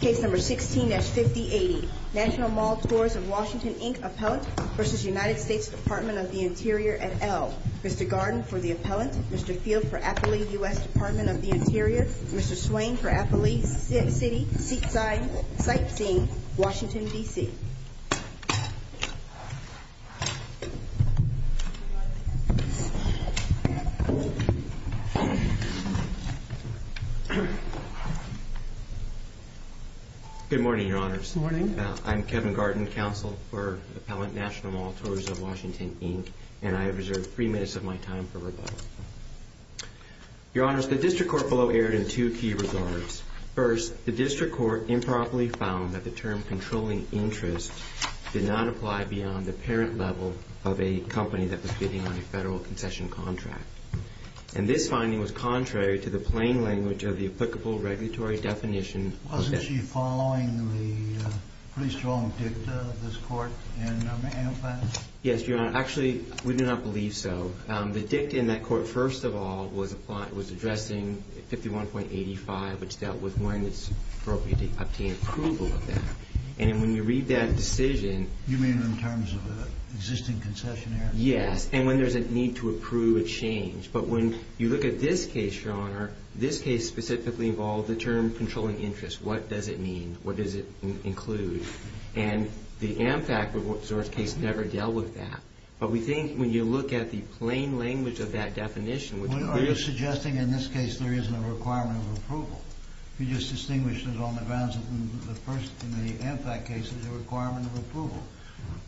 Case No. 16-5080, National Mall Tours of Washington, Inc. Appellant v. United States Department of the Interior et al. Mr. Garden for the Appellant, Mr. Field for Appley, U.S. Department of the Interior, Mr. Swain for Appley City Sightseeing, Washington, D.C. Good morning, Your Honors. Good morning. I'm Kevin Garden, Counsel for Appellant, National Mall Tours of Washington, Inc., and I have reserved three minutes of my time for rebuttal. Your Honors, the District Court below erred in two key regards. First, the District Court improperly found that the term controlling interest did not apply beyond the parent level of a company that was bidding on a federal concession contract. And this finding was contrary to the plain language of the applicable regulatory definition. Wasn't she following the pretty strong dicta of this Court in a manual plan? Yes, Your Honor. Actually, we do not believe so. The dicta in that Court, first of all, was addressing 51.85, which dealt with when it's appropriate to obtain approval of that. And when you read that decision— You mean in terms of an existing concessionary? Yes, and when there's a need to approve a change. But when you look at this case, Your Honor, this case specifically involved the term controlling interest. What does it mean? What does it include? And the AmFact resource case never dealt with that. But we think when you look at the plain language of that definition, which clearly— Are you suggesting in this case there isn't a requirement of approval? You just distinguished it on the grounds that the first—in the AmFact case, there's a requirement of approval.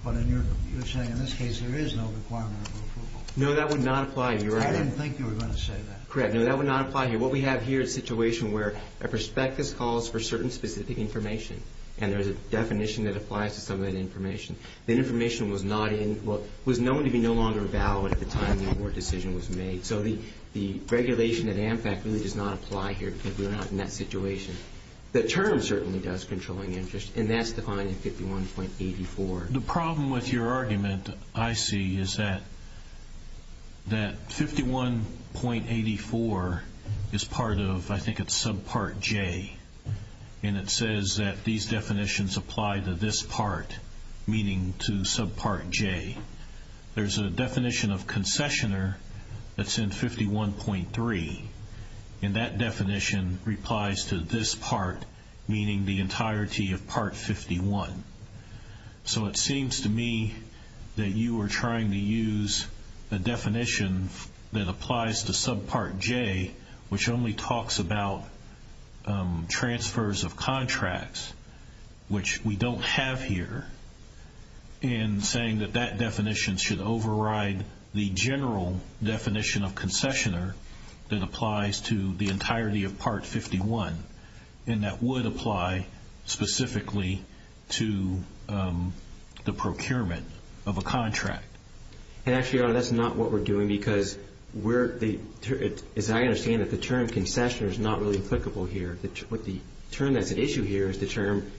But you're saying in this case there is no requirement of approval. No, that would not apply, Your Honor. I didn't think you were going to say that. Correct. No, that would not apply here. What we have here is a situation where a prospectus calls for certain specific information, and there's a definition that applies to some of that information. That information was not in—was known to be no longer valid at the time the award decision was made. So the regulation at AmFact really does not apply here because we're not in that situation. The term certainly does controlling interest, and that's defined in 51.84. The problem with your argument, I see, is that 51.84 is part of—I think it's subpart J, and it says that these definitions apply to this part, meaning to subpart J. There's a definition of concessioner that's in 51.3, and that definition replies to this part, meaning the entirety of part 51. So it seems to me that you are trying to use a definition that applies to subpart J, which only talks about transfers of contracts, which we don't have here, and saying that that definition should override the general definition of concessioner that applies to the entirety of part 51, and that would apply specifically to the procurement of a contract. Actually, Your Honor, that's not what we're doing because we're—as I understand it, the term concessioner is not really applicable here. The term that's at issue here is the term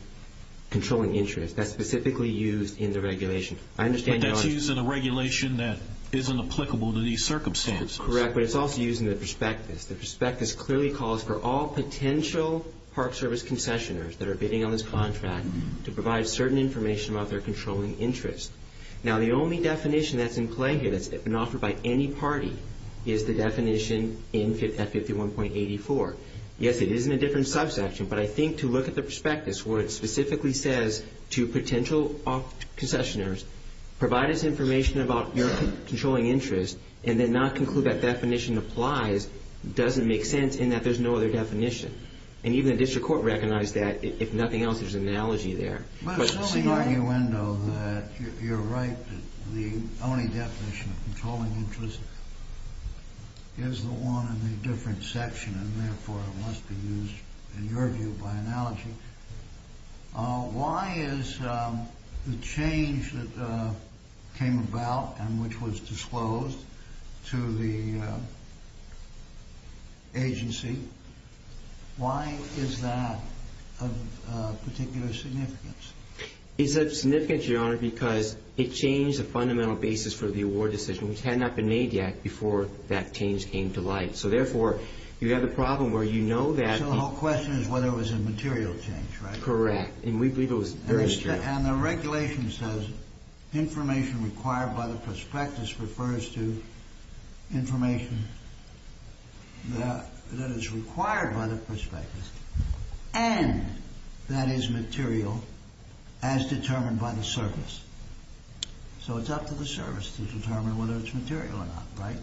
controlling interest. That's specifically used in the regulation. I understand, Your Honor— But that's used in a regulation that isn't applicable to these circumstances. Correct, but it's also used in the prospectus. The prospectus clearly calls for all potential park service concessioners that are bidding on this contract to provide certain information about their controlling interest. Now, the only definition that's in play here that's been offered by any party is the definition in 51.84. Yes, it is in a different subsection, but I think to look at the prospectus where it specifically says to potential concessioners, provide us information about your controlling interest and then not conclude that definition applies doesn't make sense in that there's no other definition. And even the district court recognized that. If nothing else, there's an analogy there. Assuming, arguendo, that you're right, that the only definition of controlling interest is the one in the different section, and therefore it must be used, in your view, by analogy, why is the change that came about and which was disclosed to the agency, why is that of particular significance? It's of significance, Your Honor, because it changed the fundamental basis for the award decision, which had not been made yet before that change came to light. So therefore, you have a problem where you know that... So the whole question is whether it was a material change, right? Correct, and we believe it was very material. And the regulation says information required by the prospectus refers to information that is required by the prospectus and that is material as determined by the service. So it's up to the service to determine whether it's material or not, right?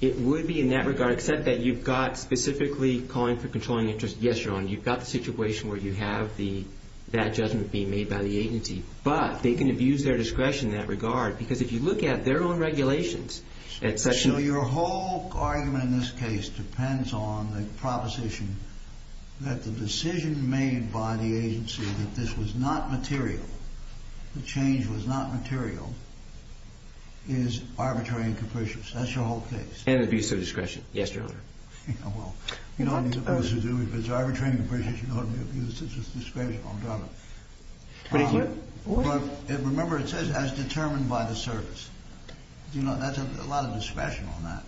It would be in that regard, except that you've got specifically calling for controlling interest. Yes, Your Honor, you've got the situation where you have that judgment being made by the agency, but they can abuse their discretion in that regard because if you look at their own regulations, it's such... So your whole argument in this case depends on the proposition that the decision made by the agency that this was not material, the change was not material, is arbitrary and capricious. That's your whole case. And abuse of discretion, yes, Your Honor. Well, you don't need to abuse it. If it's arbitrary and capricious, you don't need to abuse it. It's just discretion, I'm done. But if you... Remember it says as determined by the service. You know, that's a lot of discretion on that.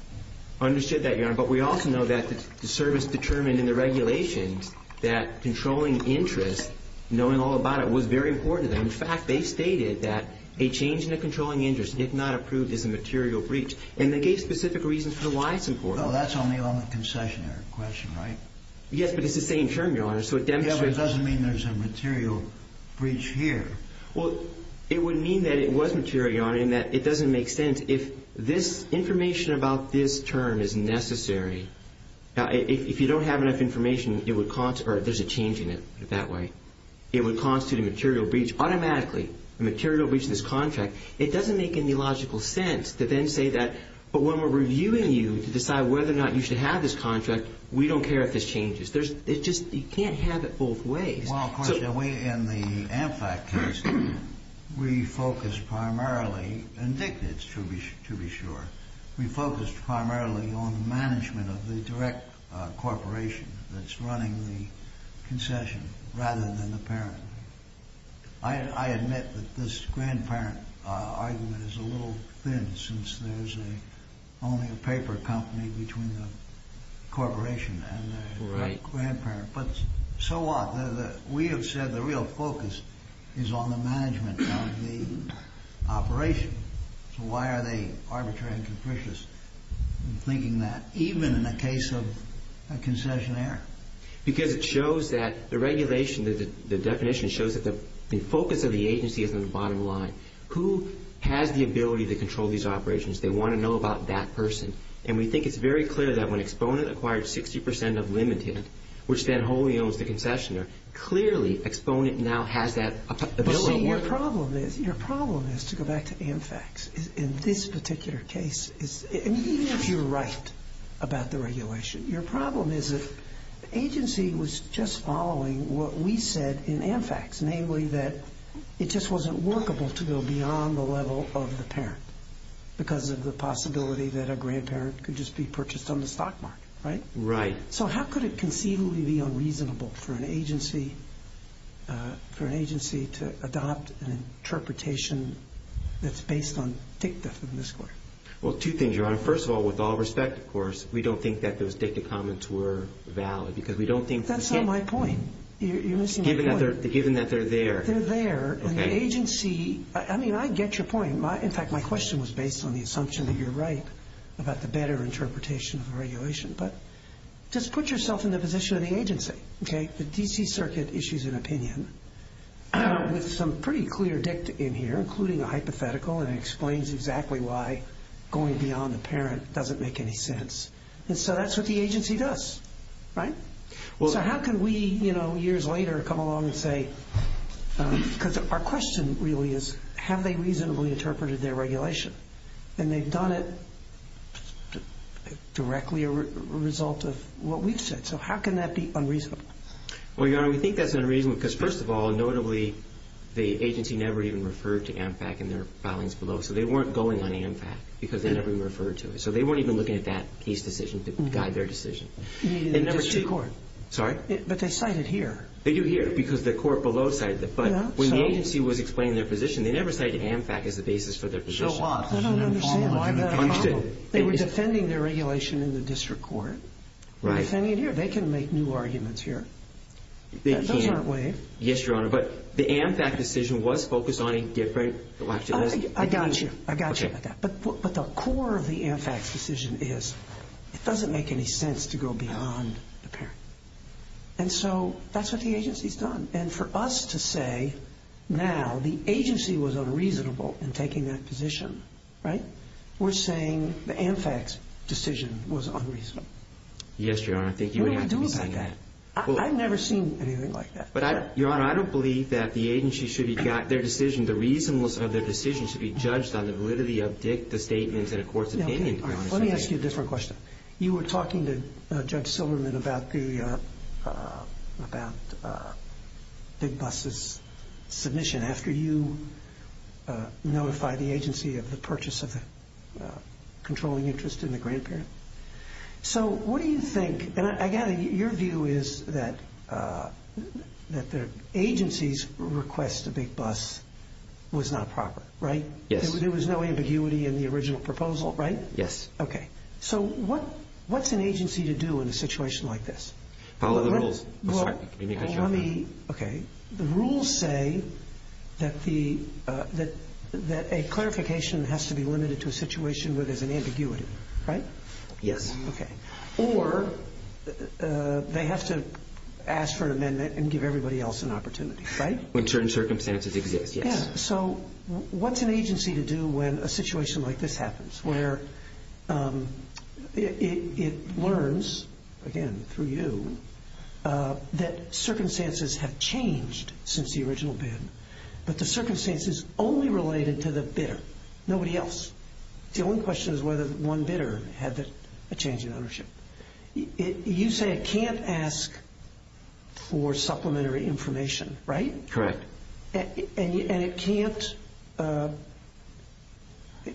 Understood that, Your Honor. But we also know that the service determined in the regulations that controlling interest, knowing all about it, was very important to them. In fact, they stated that a change in the controlling interest if not approved is a material breach. And they gave specific reasons for why it's important. No, that's only on the concessionary question, right? Yes, but it's the same term, Your Honor, so it demonstrates... Well, it would mean that it was material, Your Honor, and that it doesn't make sense. If this information about this term is necessary, if you don't have enough information, there's a change in it that way. It would constitute a material breach automatically, a material breach of this contract. It doesn't make any logical sense to then say that, but when we're reviewing you to decide whether or not you should have this contract, we don't care if this changes. You can't have it both ways. Well, of course, in the AmFact case, we focused primarily, and Dick did, to be sure, we focused primarily on the management of the direct corporation that's running the concession rather than the parent. I admit that this grandparent argument is a little thin since there's only a paper company between the corporation and the grandparent. But so what? We have said the real focus is on the management of the operation. So why are they arbitrary and capricious in thinking that, even in the case of a concessionaire? Because it shows that the regulation, the definition, shows that the focus of the agency is on the bottom line. Who has the ability to control these operations? They want to know about that person. And we think it's very clear that when Exponent acquired 60% of Limited, which then wholly owns the concessionaire, clearly Exponent now has that ability. But see, your problem is to go back to AmFacts. In this particular case, even if you're right about the regulation, your problem is that the agency was just following what we said in AmFacts, namely that it just wasn't workable to go beyond the level of the parent because of the possibility that a grandparent could just be purchased on the stock market. Right? Right. So how could it conceivably be unreasonable for an agency to adopt an interpretation that's based on dicta from this court? Well, two things, Your Honor. First of all, with all respect, of course, we don't think that those dicta comments were valid because we don't think the state— That's not my point. You're missing the point. Given that they're there. They're there, and the agency—I mean, I get your point. In fact, my question was based on the assumption that you're right about the better interpretation of the regulation. But just put yourself in the position of the agency. Okay? The D.C. Circuit issues an opinion with some pretty clear dicta in here, including a hypothetical, and it explains exactly why going beyond the parent doesn't make any sense. And so that's what the agency does. Right? So how can we, you know, years later come along and say— Because our question really is have they reasonably interpreted their regulation? And they've done it directly as a result of what we've said. So how can that be unreasonable? Well, Your Honor, we think that's unreasonable because, first of all, notably the agency never even referred to AMFAC in their filings below. So they weren't going on AMFAC because they never even referred to it. So they weren't even looking at that case decision to guide their decision. You mean the District Court? Sorry? But they cite it here. They do here because the court below cited it. But when the agency was explaining their position, they never cited AMFAC as the basis for their position. So what? I don't understand. Why not? They were defending their regulation in the District Court. Right. Defending it here. They can make new arguments here. They can. Those aren't waived. Yes, Your Honor. But the AMFAC decision was focused on a different election. I got you. I got you. But the core of the AMFAC decision is it doesn't make any sense to go beyond the parent. And so that's what the agency's done. And for us to say now the agency was unreasonable in taking that position, right, we're saying the AMFAC's decision was unreasonable. Yes, Your Honor. I think you would have to be saying that. What do we do about that? I've never seen anything like that. But, Your Honor, I don't believe that the agency should have got their decision. The reason of their decision should be judged on the validity of the statements in a court's opinion. Let me ask you a different question. You were talking to Judge Silverman about Big Bus's submission after you notified the agency of the purchase of the controlling interest in the grandparent. So what do you think? And I gather your view is that the agency's request to Big Bus was not proper, right? Yes. There was no ambiguity in the original proposal, right? Yes. Okay. So what's an agency to do in a situation like this? Follow the rules. I'm sorry. Let me make a jump. Okay. The rules say that a clarification has to be limited to a situation where there's an ambiguity, right? Yes. Okay. Or they have to ask for an amendment and give everybody else an opportunity, right? When certain circumstances exist, yes. So what's an agency to do when a situation like this happens, where it learns, again, through you, that circumstances have changed since the original bid, but the circumstances only related to the bidder, nobody else. The only question is whether one bidder had a change in ownership. You say it can't ask for supplementary information, right? Correct. And it can't –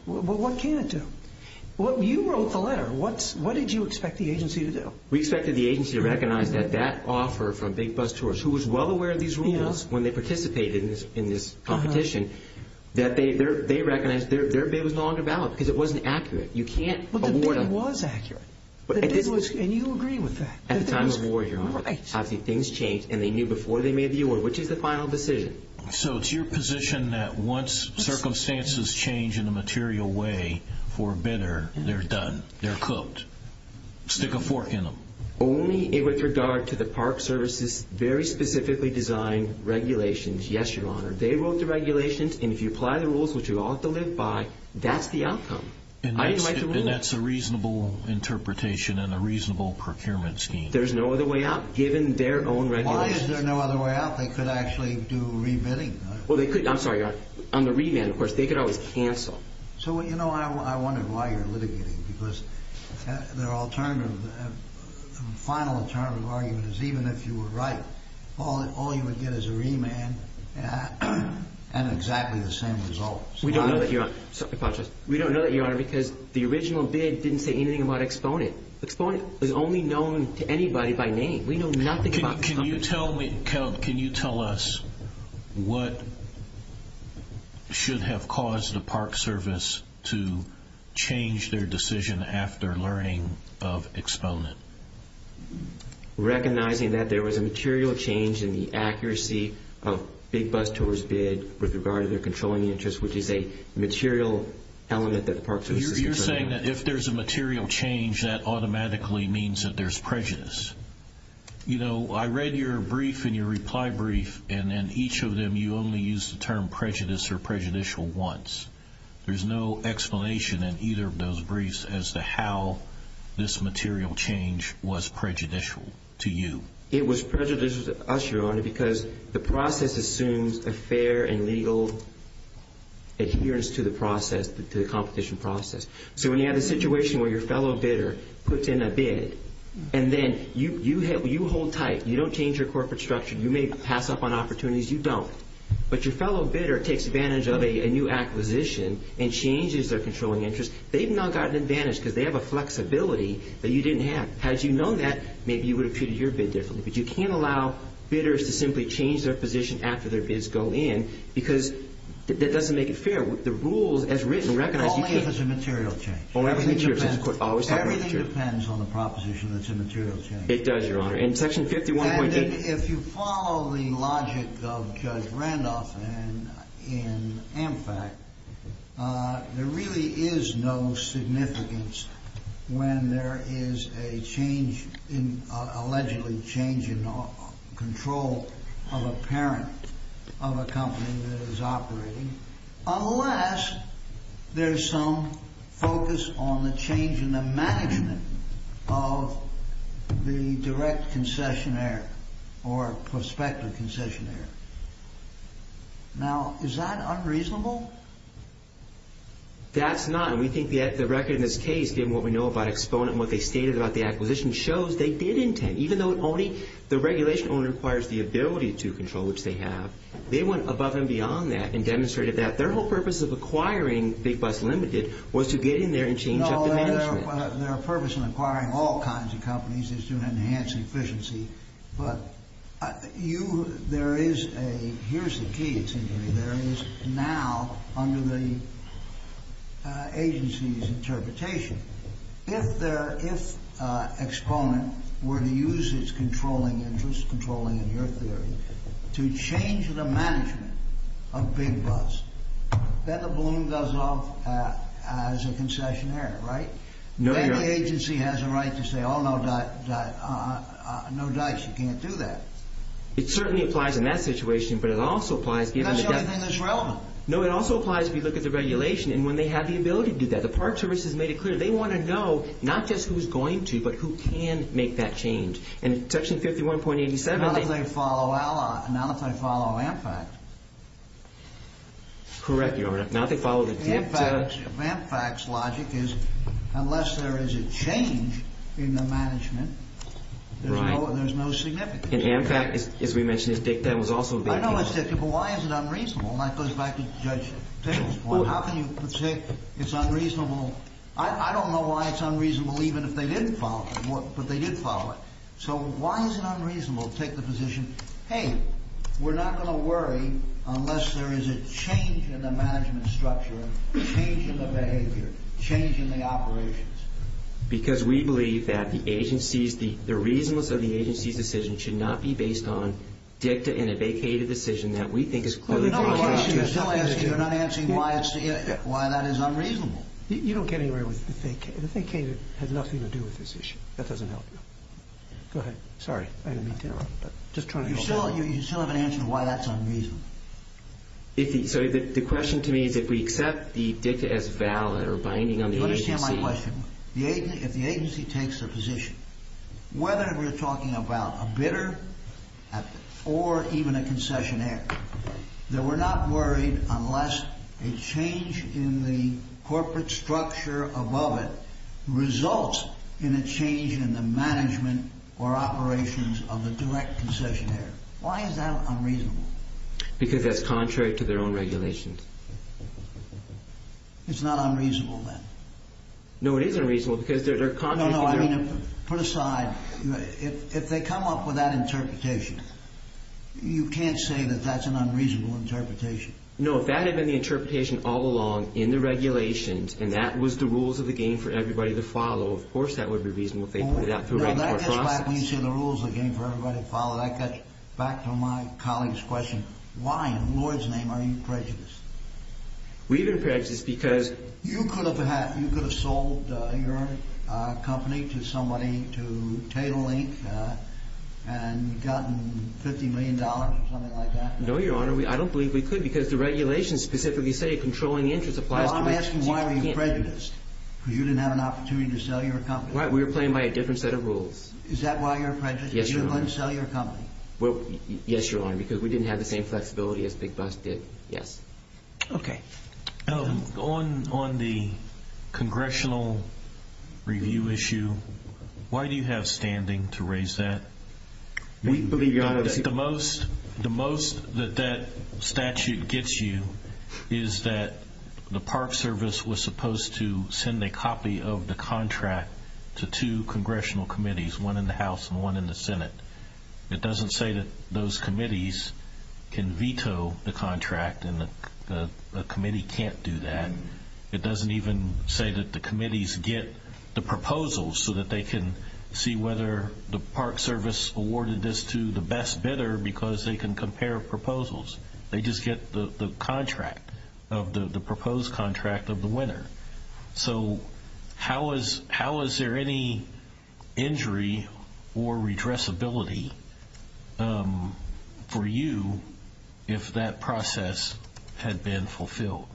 what can it do? You wrote the letter. What did you expect the agency to do? We expected the agency to recognize that that offer from Big Bus Tourist, who was well aware of these rules when they participated in this competition, that they recognized their bid was no longer valid because it wasn't accurate. You can't award them. But the bid was accurate, and you agree with that. At the time of the war, Your Honor. Right. And they knew before they made the award, which is the final decision. So it's your position that once circumstances change in a material way for a bidder, they're done, they're cooked. Stick a fork in them. Only with regard to the Park Service's very specifically designed regulations. Yes, Your Honor. They wrote the regulations, and if you apply the rules, which you all have to live by, that's the outcome. And that's a reasonable interpretation and a reasonable procurement scheme. There's no other way out, given their own regulations. Why is there no other way out? They could actually do re-bidding. Well, they could. I'm sorry, Your Honor. On the remand, of course, they could always cancel. So, you know, I wondered why you're litigating. Because the final alternative argument is even if you were right, all you would get is a remand and exactly the same results. We don't know that, Your Honor. We don't know that, Your Honor, because the original bid didn't say anything about exponent. Exponent is only known to anybody by name. We know nothing about exponent. Can you tell us what should have caused the Park Service to change their decision after learning of exponent? Recognizing that there was a material change in the accuracy of Big Bus Tour's bid with regard to their controlling interest, which is a material element that the Park Service is controlling. You're saying that if there's a material change, that automatically means that there's prejudice. You know, I read your brief and your reply brief, and in each of them you only used the term prejudice or prejudicial once. There's no explanation in either of those briefs as to how this material change was prejudicial to you. Your Honor, because the process assumes a fair and legal adherence to the process, to the competition process. So when you have a situation where your fellow bidder puts in a bid and then you hold tight, you don't change your corporate structure, you may pass up on opportunities, you don't. But your fellow bidder takes advantage of a new acquisition and changes their controlling interest. They've now got an advantage because they have a flexibility that you didn't have. Had you known that, maybe you would have treated your bid differently. But you can't allow bidders to simply change their position after their bids go in because that doesn't make it fair. The rules as written recognize you can't. Only if it's a material change. Only if it's a material change. Everything depends on the proposition that it's a material change. It does, Your Honor. In Section 51.8. If you follow the logic of Judge Randolph in AmFact, there really is no significance when there is a change, allegedly a change in control of a parent of a company that is operating. Unless there's some focus on the change in the management of the direct concessionaire or prospective concessionaire. Now, is that unreasonable? That's not. And we think the record in this case, given what we know about exponent and what they stated about the acquisition, shows they did intend, even though the regulation only requires the ability to control, which they have. They went above and beyond that and demonstrated that. Their whole purpose of acquiring Big Bus Limited was to get in there and change up the management. No, their purpose in acquiring all kinds of companies is to enhance efficiency. But you, there is a, here's the key, it seems to me. There is now, under the agency's interpretation, if exponent were to use its controlling interest, controlling in your theory, to change the management of Big Bus, then the balloon goes off as a concessionaire, right? Then the agency has a right to say, oh, no dice, you can't do that. It certainly applies in that situation, but it also applies given the definition. That's the only thing that's relevant. No, it also applies if you look at the regulation and when they have the ability to do that. The Park Service has made it clear. They want to know, not just who's going to, but who can make that change. And Section 51.87. Not if they follow, not if they follow Ampact. Correct, Your Honor. Ampact's logic is unless there is a change in the management, there's no significance. And Ampact, as we mentioned, that was also. I know it's difficult, but why is it unreasonable? And that goes back to Judge Taylor's point. How can you say it's unreasonable? I don't know why it's unreasonable even if they didn't follow it, but they did follow it. So why is it unreasonable to take the position, hey, we're not going to worry unless there is a change in the management structure, change in the behavior, change in the operations? Because we believe that the agencies, the reasonableness of the agency's decision should not be based on dicta and a vacated decision that we think is clearly. You're not answering why that is unreasonable. You don't get anywhere with the vacated. The vacated has nothing to do with this issue. That doesn't help you. Go ahead. Sorry. You still haven't answered why that's unreasonable. So the question to me is if we accept the dicta as valid or binding on the agency. Do you understand my question? If the agency takes their position, whether we're talking about a bidder or even a concessionaire, that we're not worried unless a change in the corporate structure above it results in a change in the management or operations of the direct concessionaire. Why is that unreasonable? Because that's contrary to their own regulations. It's not unreasonable, then? No, it is unreasonable because they're contrary. No, no, I mean, put aside. If they come up with that interpretation, you can't say that that's an unreasonable interpretation. No, if that had been the interpretation all along in the regulations and that was the rules of the game for everybody to follow, of course that would be reasonable if they put it out through a regular process. No, that gets back when you say the rules of the game for everybody to follow. That gets back to my colleague's question. Why in the Lord's name are you prejudiced? We've been prejudiced because... You could have sold your company to somebody, to Tatelink, and gotten $50 million or something like that? No, Your Honor, I don't believe we could because the regulations specifically say controlling interest applies to... Well, I'm asking why are you prejudiced? Because you didn't have an opportunity to sell your company. Right, we were playing by a different set of rules. Is that why you're prejudiced? Yes, Your Honor. You couldn't sell your company? Well, yes, Your Honor, because we didn't have the same flexibility as Big Bus did, yes. Okay. On the congressional review issue, why do you have standing to raise that? We believe, Your Honor... The most that that statute gets you is that the Park Service was supposed to send a copy of the contract to two congressional committees, but it doesn't say that those committees can veto the contract and the committee can't do that. It doesn't even say that the committees get the proposals so that they can see whether the Park Service awarded this to the best bidder because they can compare proposals. They just get the contract, the proposed contract of the winner. So how is there any injury or redressability for you if that process had been fulfilled?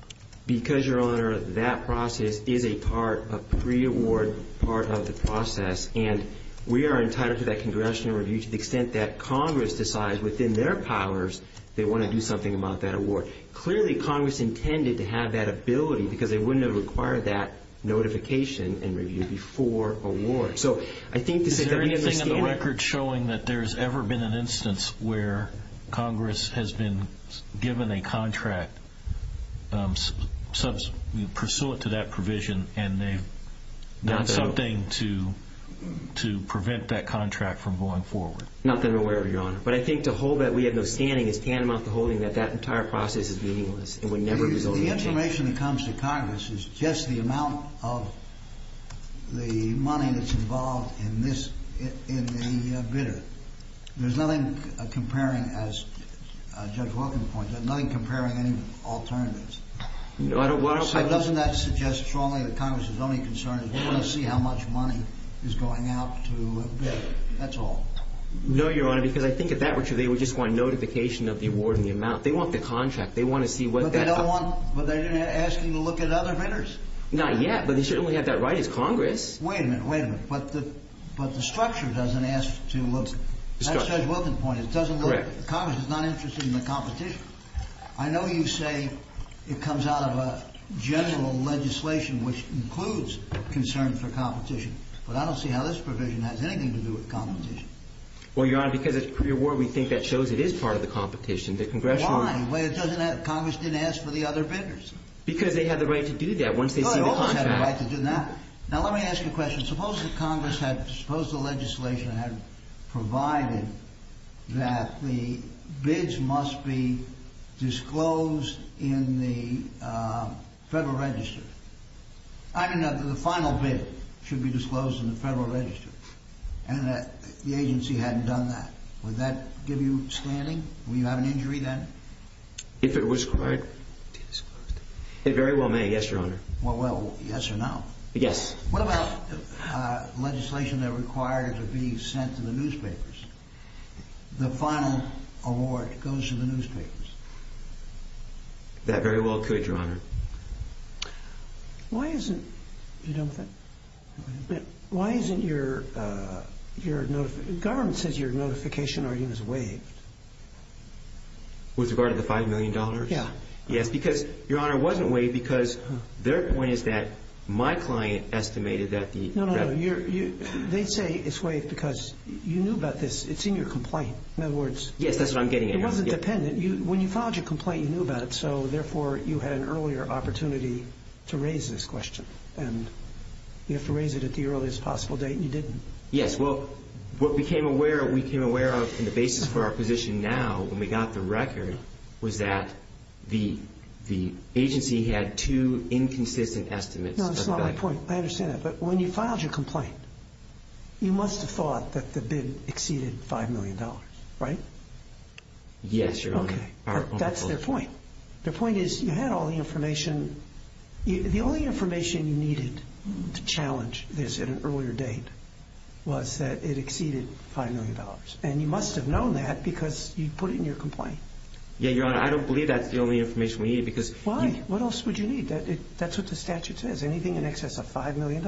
Because, Your Honor, that process is a part, a pre-award part of the process, and we are entitled to that congressional review to the extent that Congress decides within their powers they want to do something about that award. Clearly, Congress intended to have that ability because they wouldn't have required that notification and review before award. So I think that we have no standing. Is there anything on the record showing that there's ever been an instance where Congress has been given a contract, pursuant to that provision, and they've done something to prevent that contract from going forward? Nothing or whatever, Your Honor. But I think to hold that we have no standing is tantamount to holding that that entire process is meaningless and would never result in anything. The information that comes to Congress is just the amount of the money that's involved in this, in the bidder. There's nothing comparing, as Judge Wilken points out, nothing comparing any alternatives. No, I don't want to – Doesn't that suggest strongly that Congress's only concern is we want to see how much money is going out to bid? That's all. No, Your Honor, because I think if that were true, they would just want notification of the award and the amount. They want the contract. They want to see what that – But they don't want – but they're asking to look at other bidders. Not yet, but they certainly have that right. It's Congress. Wait a minute. Wait a minute. But the structure doesn't ask to look – That's Judge Wilken's point. It doesn't look – Correct. Congress is not interested in the competition. I know you say it comes out of a general legislation which includes concern for competition, but I don't see how this provision has anything to do with competition. Well, Your Honor, because it's a career award, we think that shows it is part of the competition. The Congressional – Why? Congress didn't ask for the other bidders. Because they have the right to do that once they see the contract. No, they always have the right to do that. Now, let me ask you a question. Suppose that Congress had – suppose the legislation had provided that the bids must be disclosed in the Federal Register. I mean, the final bid should be disclosed in the Federal Register, and the agency hadn't done that. Would that give you standing? Would you have an injury then? If it was required to be disclosed. It very well may, yes, Your Honor. Well, yes or no? Yes. What about legislation that requires it be sent to the newspapers? The final award goes to the newspapers. That very well could, Your Honor. Why isn't – are you done with that? Why isn't your – the government says your notification argument is waived. With regard to the $5 million? Yes. Yes, because, Your Honor, it wasn't waived because their point is that my client estimated that the – No, no, no. They say it's waived because you knew about this. It's in your complaint. In other words – Yes, that's what I'm getting at. It wasn't dependent. When you filed your complaint, you knew about it, so, therefore, you had an earlier opportunity to raise this question. And you have to raise it at the earliest possible date, and you didn't. Yes. Well, what we came aware of and the basis for our position now when we got the record was that the agency had two inconsistent estimates. No, that's not my point. I understand that. But when you filed your complaint, you must have thought that the bid exceeded $5 million, right? Yes, Your Honor. Okay. That's their point. Their point is you had all the information. The only information you needed to challenge this at an earlier date was that it exceeded $5 million. And you must have known that because you put it in your complaint. Yeah, Your Honor, I don't believe that's the only information we needed because – Why? What else would you need? That's what the statute says, anything in excess of $5 million.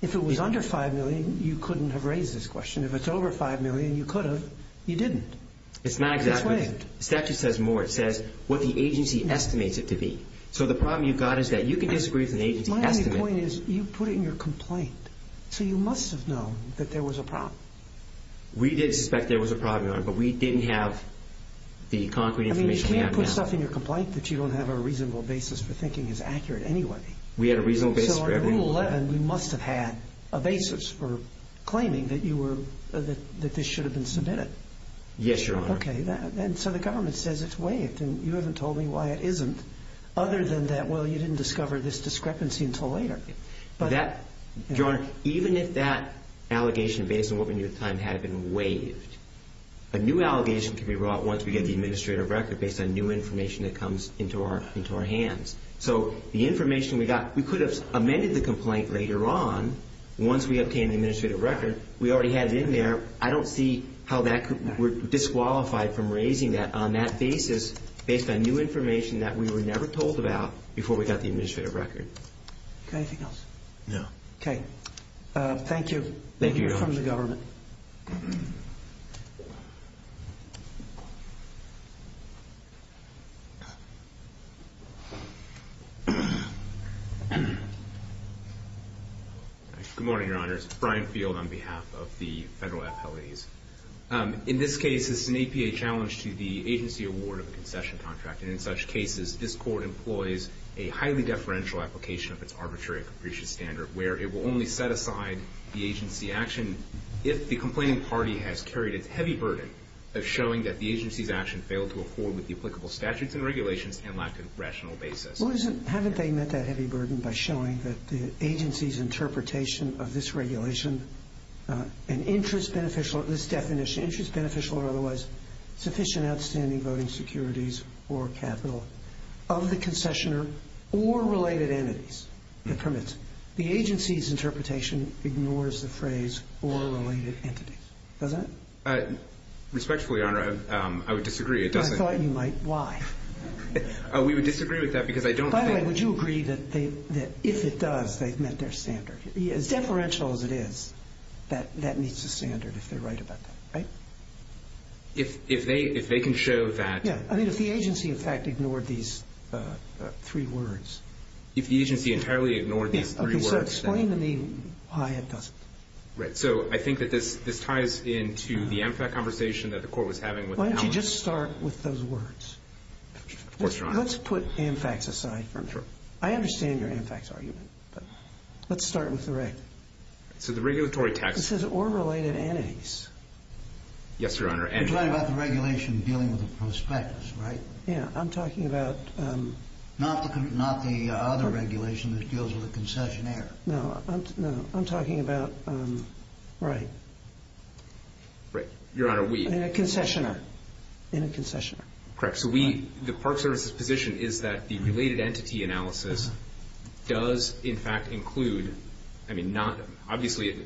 If it was under $5 million, you couldn't have raised this question. If it's over $5 million, you could have. You didn't. It's not exactly – It's waived. The statute says more. It says what the agency estimates it to be. So the problem you've got is that you can disagree with an agency estimate. My only point is you put it in your complaint, so you must have known that there was a problem. We did suspect there was a problem, Your Honor, but we didn't have the concrete information we have now. I mean, you can't put stuff in your complaint that you don't have a reasonable basis for thinking is accurate anyway. We had a reasonable basis for everything. Yes, Your Honor. Okay. And so the government says it's waived, and you haven't told me why it isn't. Other than that, well, you didn't discover this discrepancy until later. Your Honor, even if that allegation based on what we knew at the time had been waived, a new allegation can be brought once we get the administrative record based on new information that comes into our hands. So the information we got – we could have amended the complaint later on once we obtained the administrative record. We already had it in there. I don't see how that could – we're disqualified from raising that on that basis based on new information that we were never told about before we got the administrative record. Anything else? No. Okay. Thank you. Thank you, Your Honor. From the government. Good morning, Your Honors. Brian Field on behalf of the Federal Appellate. In this case, it's an APA challenge to the agency award of a concession contract, and in such cases this court employs a highly deferential application of its arbitrary and capricious standard where it will only set aside the agency action if the complaining party has carried its heavy burden of showing that the agency's action failed to afford with the applicable statutes and regulations and lack of rational basis. Well, isn't – haven't they met that heavy burden by showing that the agency's interpretation of this regulation, an interest beneficial – this definition – interest beneficial or otherwise sufficient outstanding voting securities or capital of the concessioner or related entities that permits it. The agency's interpretation ignores the phrase or related entities. Doesn't it? Respectfully, Your Honor, I would disagree. I thought you might. Why? We would disagree with that because I don't think – By the way, would you agree that if it does, they've met their standard? As deferential as it is, that meets the standard if they're right about that. Right? If they can show that – Yeah. I mean, if the agency, in fact, ignored these three words. If the agency entirely ignored these three words, then – Okay. So explain to me why it doesn't. So I think that this ties into the AMFAC conversation that the Court was having with Allen. Why don't you just start with those words? Of course, Your Honor. Let's put AMFACs aside for a minute. Sure. I understand your AMFACs argument, but let's start with the right. So the regulatory text – It says or related entities. Yes, Your Honor. You're talking about the regulation dealing with the prospectus, right? Yeah. I'm talking about – Not the other regulation that deals with the concessionaire. No. No. I'm talking about – right. Right. Your Honor, we – In a concessionaire. In a concessionaire. Correct. So we – the Park Service's position is that the related entity analysis does, in fact, include – I mean, not – The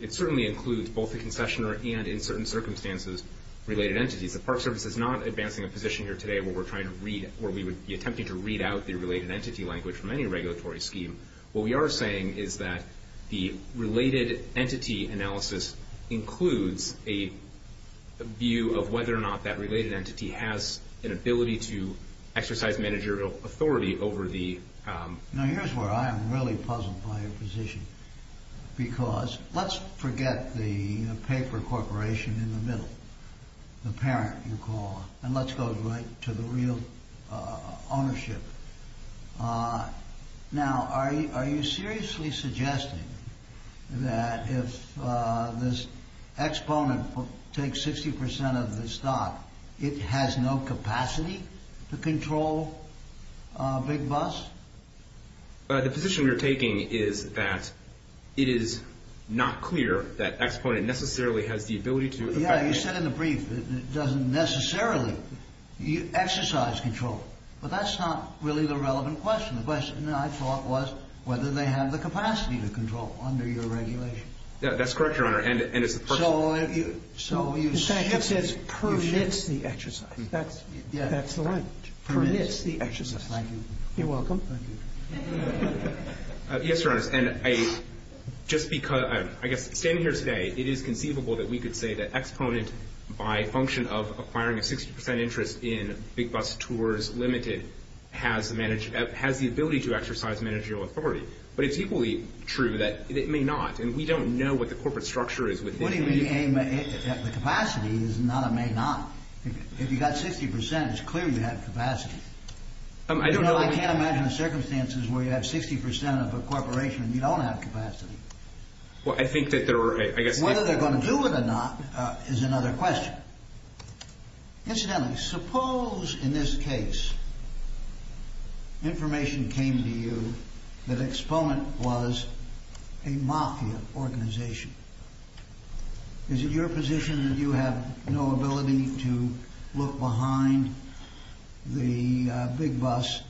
Park Service is not advancing a position here today where we're trying to read – where we would be attempting to read out the related entity language from any regulatory scheme. What we are saying is that the related entity analysis includes a view of whether or not that related entity has an ability to exercise managerial authority over the – Now, here's where I am really puzzled by your position, because let's forget the paper corporation in the middle, the parent, you call it, and let's go right to the real ownership. Now, are you seriously suggesting that if this exponent takes 60 percent of the stock, it has no capacity to control Big Bus? The position we are taking is that it is not clear that exponent necessarily has the ability to – Yeah, you said in the brief that it doesn't necessarily exercise control, but that's not really the relevant question. The question, I thought, was whether they have the capacity to control under your regulations. Yeah, that's correct, Your Honor, and it's the first – So you – In fact, it says permits the exercise. That's – Yeah. Permits the exercise. Thank you. You're welcome. Yes, Your Honor, and I – just because – I guess standing here today, it is conceivable that we could say that exponent, by function of acquiring a 60 percent interest in Big Bus Tours Limited, has the ability to exercise managerial authority. But it's equally true that it may not, and we don't know what the corporate structure is within – What do you mean, the capacity is not a may not? If you've got 60 percent, it's clear you have capacity. I don't know – You don't have circumstances where you have 60 percent of a corporation and you don't have capacity. Well, I think that there are – I guess – Whether they're going to do it or not is another question. Incidentally, suppose in this case information came to you that exponent was a mafia organization. Is it your position that you have no ability to look behind the Big Bus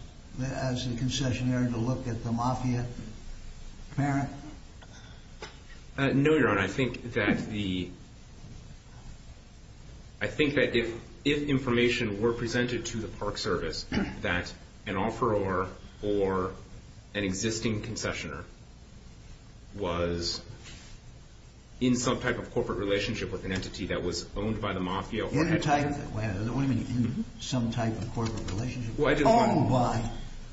as a concessionaire to look at the mafia parent? No, Your Honor. I think that the – I think that if information were presented to the Park Service that an offeror or an existing concessionaire was in some type of corporate relationship with an entity that was owned by the mafia – In a type – what do you mean, in some type of corporate relationship? Owned by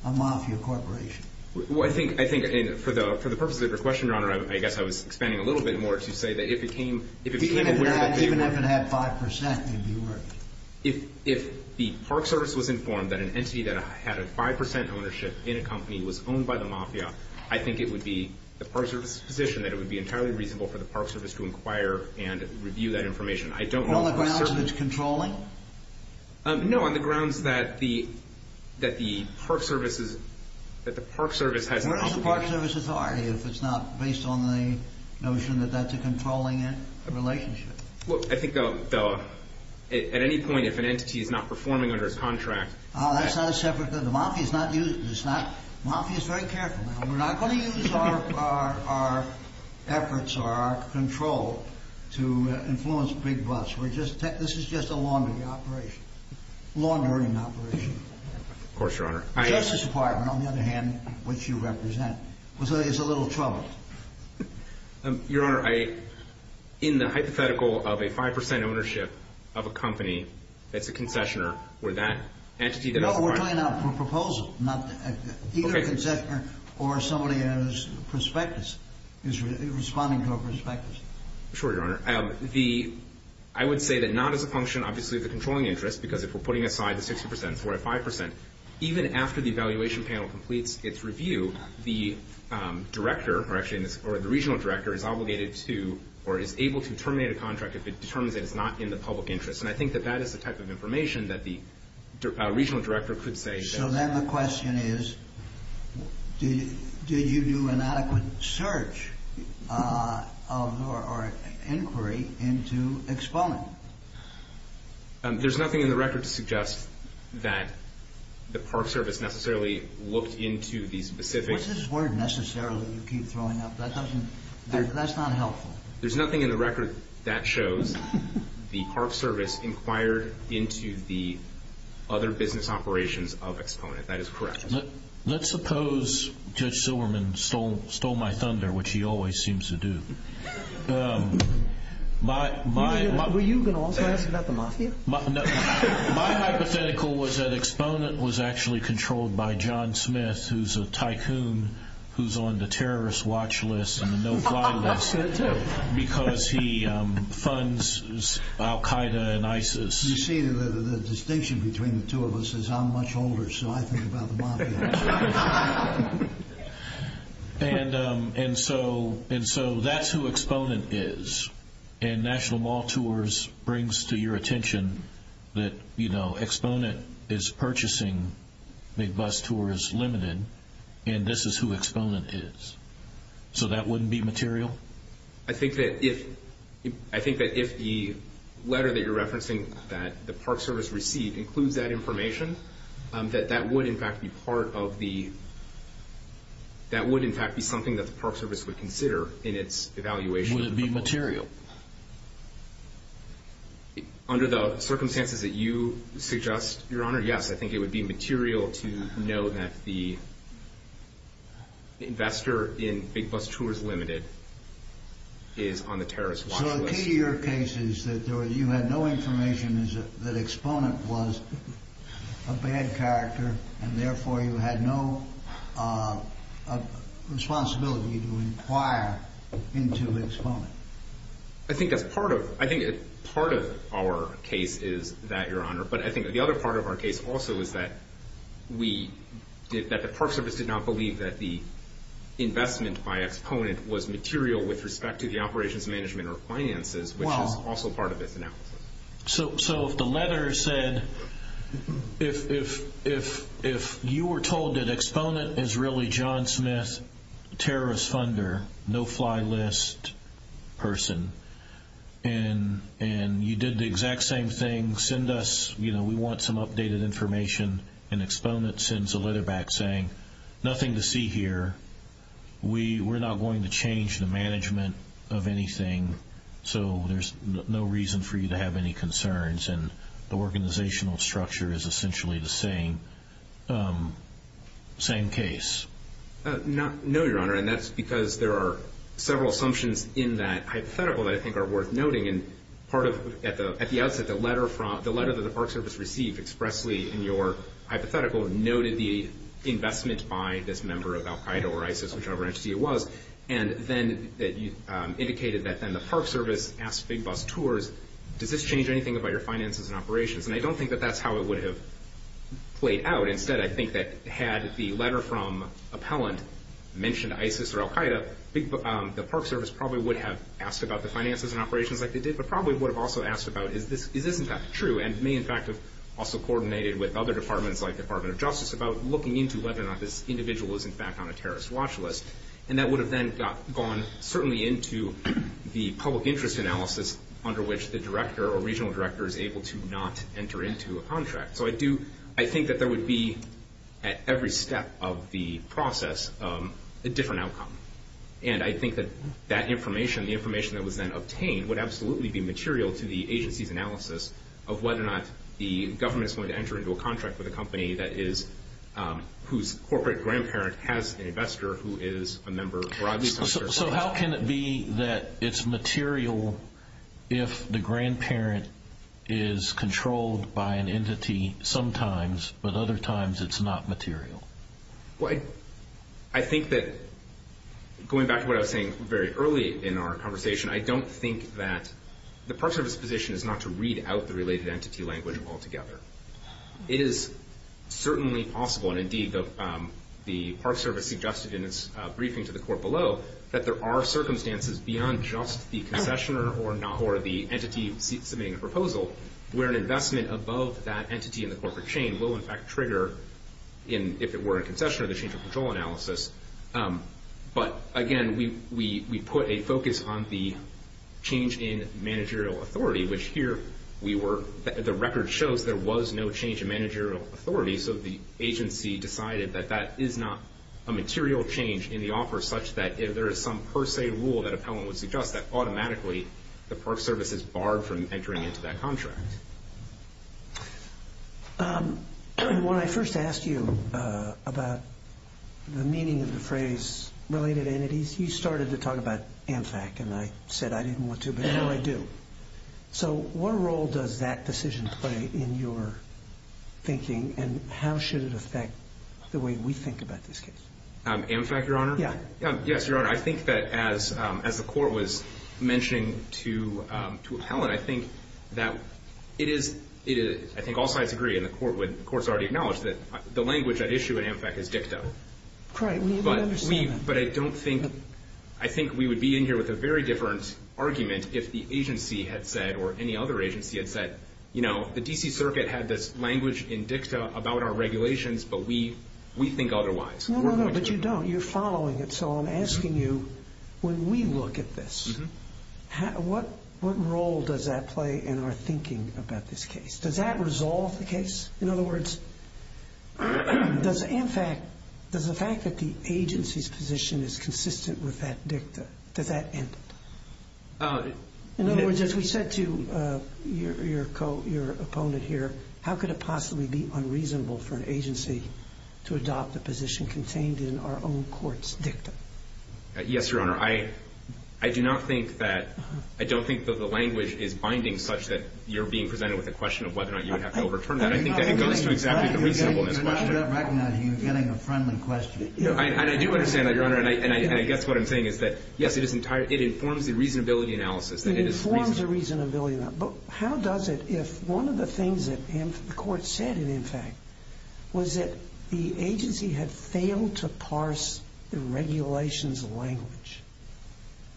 a mafia corporation. Well, I think – I think for the purpose of your question, Your Honor, I guess I was expanding a little bit more to say that if it came – Even if it had 5 percent, it would be worth it. If the Park Service was informed that an entity that had a 5 percent ownership in a company was owned by the mafia, I think it would be the Park Service's position that it would be entirely reasonable for the Park Service to inquire and review that information. I don't – On the grounds that it's controlling? No, on the grounds that the – that the Park Service is – that the Park Service has – What is the Park Service authority if it's not based on the notion that that's a controlling relationship? Well, I think, though, at any point if an entity is not performing under its contract – That's not a separate – the mafia's not – the mafia's very careful now. We're not going to use our efforts or our control to influence big busts. We're just – this is just a laundering operation. Laundering operation. Of course, Your Honor. The Justice Department, on the other hand, which you represent, is a little troubled. Your Honor, I – in the hypothetical of a 5 percent ownership of a company that's a concessioner or that entity that has a 5 – No, we're talking about a proposal, not – either a concessioner or somebody who has a prospectus is responding to a prospectus. Sure, Your Honor. The – I would say that not as a function, obviously, of the controlling interest because if we're putting aside the 60 percent for a 5 percent, even after the evaluation panel completes its review, the director, or actually the regional director, is obligated to or is able to terminate a contract if it determines that it's not in the public interest. And I think that that is the type of information that the regional director could say. So then the question is, do you do an adequate search of or inquiry into exponent? There's nothing in the record to suggest that the Park Service necessarily looked into the specific – What's this word, necessarily, that you keep throwing up? That doesn't – that's not helpful. There's nothing in the record that shows the Park Service inquired into the other business operations of exponent. That is correct. Let's suppose Judge Silverman stole my thunder, which he always seems to do. Were you going to also ask about the mafia? My hypothetical was that exponent was actually controlled by John Smith, who's a tycoon, who's on the terrorist watch list and the no-fly list. That's fair, too. Because he funds al-Qaeda and ISIS. You see, the distinction between the two of us is I'm much older, so I think about the mafia. And so that's who exponent is. And National Mall Tours brings to your attention that exponent is purchasing Big Bus Tours Limited, and this is who exponent is. So that wouldn't be material? I think that if the letter that you're referencing that the Park Service received includes that information, that that would, in fact, be part of the – that would, in fact, be something that the Park Service would consider in its evaluation. Would it be material? Under the circumstances that you suggest, Your Honor, yes. I think it would be material to know that the investor in Big Bus Tours Limited is on the terrorist watch list. So the key to your case is that you had no information that exponent was a bad character, and therefore you had no responsibility to inquire into exponent. I think that's part of – I think part of our case is that, Your Honor. But I think the other part of our case also is that we – that the Park Service did not believe that the investment by exponent was material with respect to the operations management or finances, which is also part of its analysis. So if the letter said – if you were told that exponent is really John Smith, terrorist funder, no-fly list person, and you did the exact same thing, send us – you know, we want some updated information, and exponent sends a letter back saying, nothing to see here. We're not going to change the management of anything, so there's no reason for you to have any concerns. And the organizational structure is essentially the same. Same case. No, Your Honor, and that's because there are several assumptions in that hypothetical that I think are worth noting. And part of – at the outset, the letter from – the letter that the Park Service received expressly in your hypothetical noted the investment by this member of al-Qaeda or ISIS, whichever entity it was, and then indicated that then the Park Service asked Big Bus Tours, does this change anything about your finances and operations? And I don't think that that's how it would have played out. Instead, I think that had the letter from appellant mentioned ISIS or al-Qaeda, the Park Service probably would have asked about the finances and operations like they did, but probably would have also asked about, is this in fact true, and may in fact have also coordinated with other departments like the Department of Justice about looking into whether or not this individual is in fact on a terrorist watch list. And that would have then gone certainly into the public interest analysis under which the director or regional director is able to not enter into a contract. So I do – I think that there would be, at every step of the process, a different outcome. And I think that that information, the information that was then obtained, would absolutely be material to the agency's analysis of whether or not the government is going to enter into a contract with a company that is – whose corporate grandparent has an investor who is a member or at least – So how can it be that it's material if the grandparent is controlled by an entity sometimes, but other times it's not material? Well, I think that, going back to what I was saying very early in our conversation, I don't think that the Park Service's position is not to read out the related entity language altogether. It is certainly possible, and indeed the Park Service suggested in its briefing to the court below, that there are circumstances beyond just the concessioner or the entity submitting a proposal where an investment above that entity in the corporate chain will in fact trigger, if it were a concessioner, the change of control analysis. But again, we put a focus on the change in managerial authority, which here we were – the record shows there was no change in managerial authority, so the agency decided that that is not a material change in the offer, such that if there is some per se rule that appellant would suggest, that automatically the Park Service is barred from entering into that contract. When I first asked you about the meaning of the phrase related entities, you started to talk about AmFac, and I said I didn't want to, but now I do. So what role does that decision play in your thinking, and how should it affect the way we think about this case? AmFac, Your Honor? Yeah. Yes, Your Honor. I think that as the court was mentioning to appellant, I think that it is – I think all sides agree, and the court's already acknowledged, that the language at issue in AmFac is dicta. Right. We understand that. But I don't think – I think we would be in here with a very different argument if the agency had said, or any other agency had said, you know, the D.C. Circuit had this language in dicta about our regulations, but we think otherwise. No, no, no, but you don't. You're following it. So I'm asking you, when we look at this, what role does that play in our thinking about this case? Does that resolve the case? In other words, does AmFac – does the fact that the agency's position is consistent with that dicta, does that end it? In other words, as we said to your opponent here, how could it possibly be unreasonable for an agency to adopt a position contained in our own court's dicta? Yes, Your Honor. I do not think that – I don't think that the language is binding such that you're being presented with a question of whether or not you would have to overturn that. I think that it goes to exactly the reasonableness of the question. I do not recognize that you're getting a friendly question. And I do understand that, Your Honor, and I guess what I'm saying is that, yes, it informs the reasonability analysis. It informs the reasonability analysis. But how does it if one of the things that the court said in AmFac was that the agency had failed to parse the regulations language?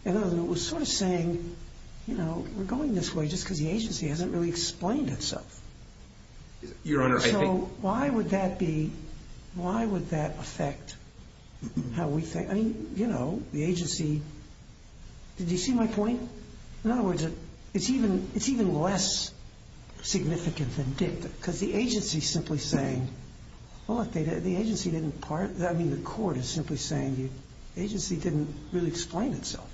In other words, it was sort of saying, you know, we're going this way just because the agency hasn't really explained itself. Your Honor, I think – So why would that be – why would that affect how we think? I mean, you know, the agency – did you see my point? In other words, it's even less significant than dicta because the agency is simply saying, well, look, the agency didn't – I mean, the court is simply saying the agency didn't really explain itself.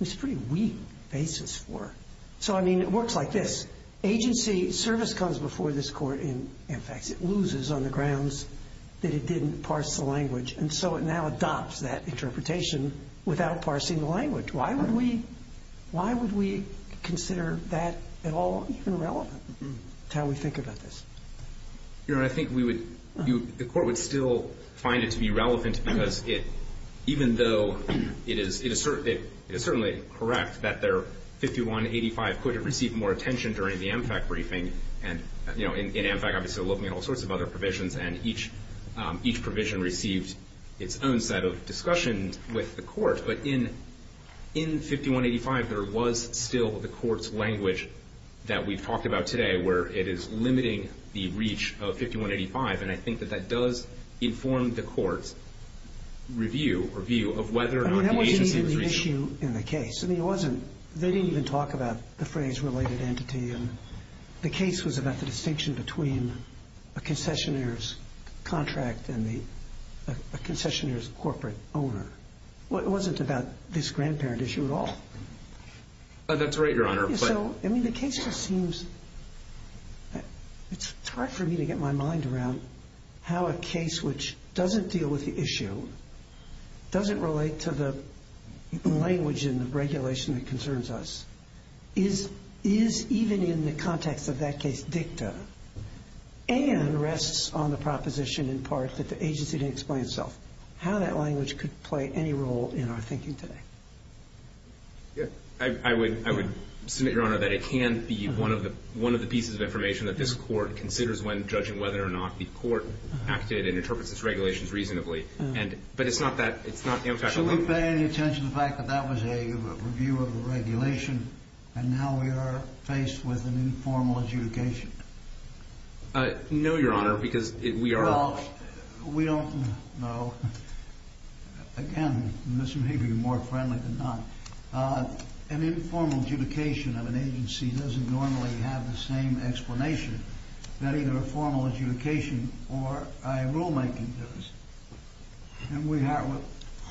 It's a pretty weak basis for – so, I mean, it works like this. Agency service comes before this court in AmFac. It loses on the grounds that it didn't parse the language. And so it now adopts that interpretation without parsing the language. Why would we – why would we consider that at all even relevant to how we think about this? Your Honor, I think we would – the court would still find it to be relevant because it – even though it is – it is certainly correct that their 5185 could have received more attention during the AmFac briefing. And, you know, in AmFac, obviously, we're looking at all sorts of other provisions, and each – each provision received its own set of discussions with the court. But in – in 5185, there was still the court's language that we've talked about today where it is limiting the reach of 5185. And I think that that does inform the court's review or view of whether or not the agency was – I mean, that wasn't even the issue in the case. I mean, it wasn't – they didn't even talk about the phrase related entity. The case was about the distinction between a concessionaire's contract and the – a concessionaire's corporate owner. It wasn't about this grandparent issue at all. That's right, Your Honor. So, I mean, the case just seems – it's hard for me to get my mind around how a case which doesn't deal with the issue, doesn't relate to the language in the regulation that concerns us, is – is even in the context of that case dicta and rests on the proposition in part that the agency didn't explain itself. How that language could play any role in our thinking today. Yeah. I would – I would submit, Your Honor, that it can be one of the – one of the pieces of information that this court considers when judging whether or not the court acted and interprets its regulations reasonably. Should we pay any attention to the fact that that was a review of the regulation and now we are faced with an informal adjudication? No, Your Honor, because we are – Well, we don't – no. Again, this may be more friendly than not. An informal adjudication of an agency doesn't normally have the same explanation that either a formal adjudication or a rulemaking does. And we have –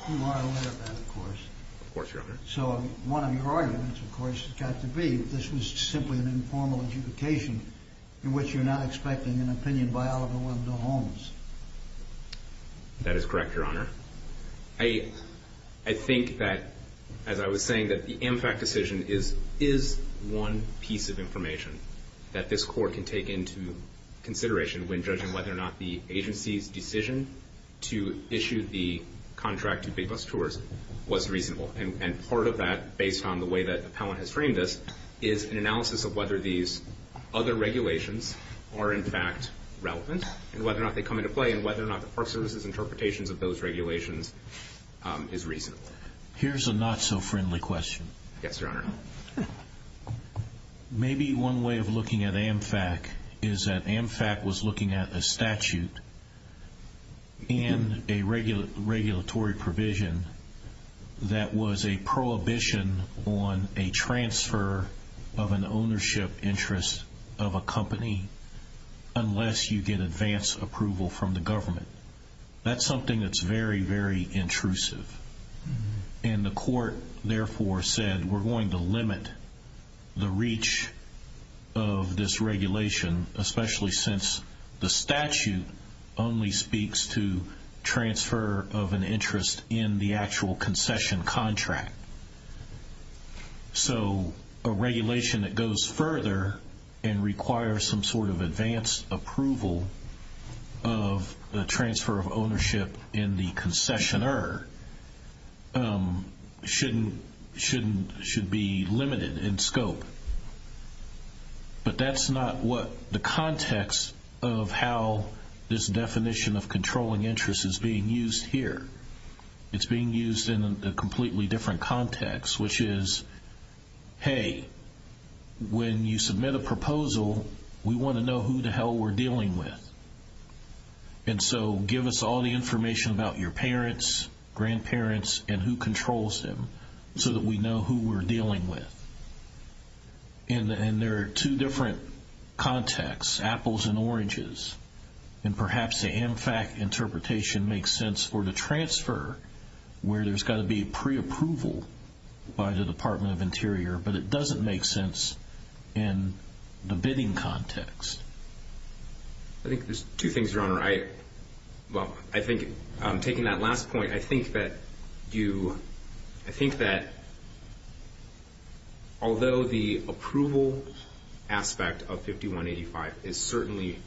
you are aware of that, of course. Of course, Your Honor. So one of your arguments, of course, has got to be that this was simply an informal adjudication in which you're not expecting an opinion by Oliver Wendell Holmes. That is correct, Your Honor. I – I think that, as I was saying, that the MFAC decision is – is one piece of information that this court can take into consideration when judging whether or not the agency's decision to issue the contract to Big Bus Tours was reasonable. And part of that, based on the way that Appellant has framed this, is an analysis of whether these other regulations are, in fact, relevant and whether or not they come into play and whether or not the Park Service's interpretations of those regulations is reasonable. Here's a not-so-friendly question. Yes, Your Honor. Maybe one way of looking at MFAC is that MFAC was looking at a statute and a regulatory provision that was a prohibition on a transfer of an ownership interest of a company unless you get advance approval from the government. That's something that's very, very intrusive. And the court, therefore, said we're going to limit the reach of this regulation, especially since the statute only speaks to transfer of an interest in the actual concession contract. So a regulation that goes further and requires some sort of advance approval of the transfer of ownership in the concessioner should be limited in scope. But that's not what the context of how this definition of controlling interest is being used here. It's being used in a completely different context, which is, hey, when you submit a proposal, we want to know who the hell we're dealing with. And so give us all the information about your parents, grandparents, and who controls them so that we know who we're dealing with. And there are two different contexts, apples and oranges. And perhaps the MFAC interpretation makes sense for the transfer where there's got to be preapproval by the Department of Interior, but it doesn't make sense in the bidding context. I think there's two things, Your Honor. Well, I think taking that last point, I think that although the approval aspect of 5185 is certainly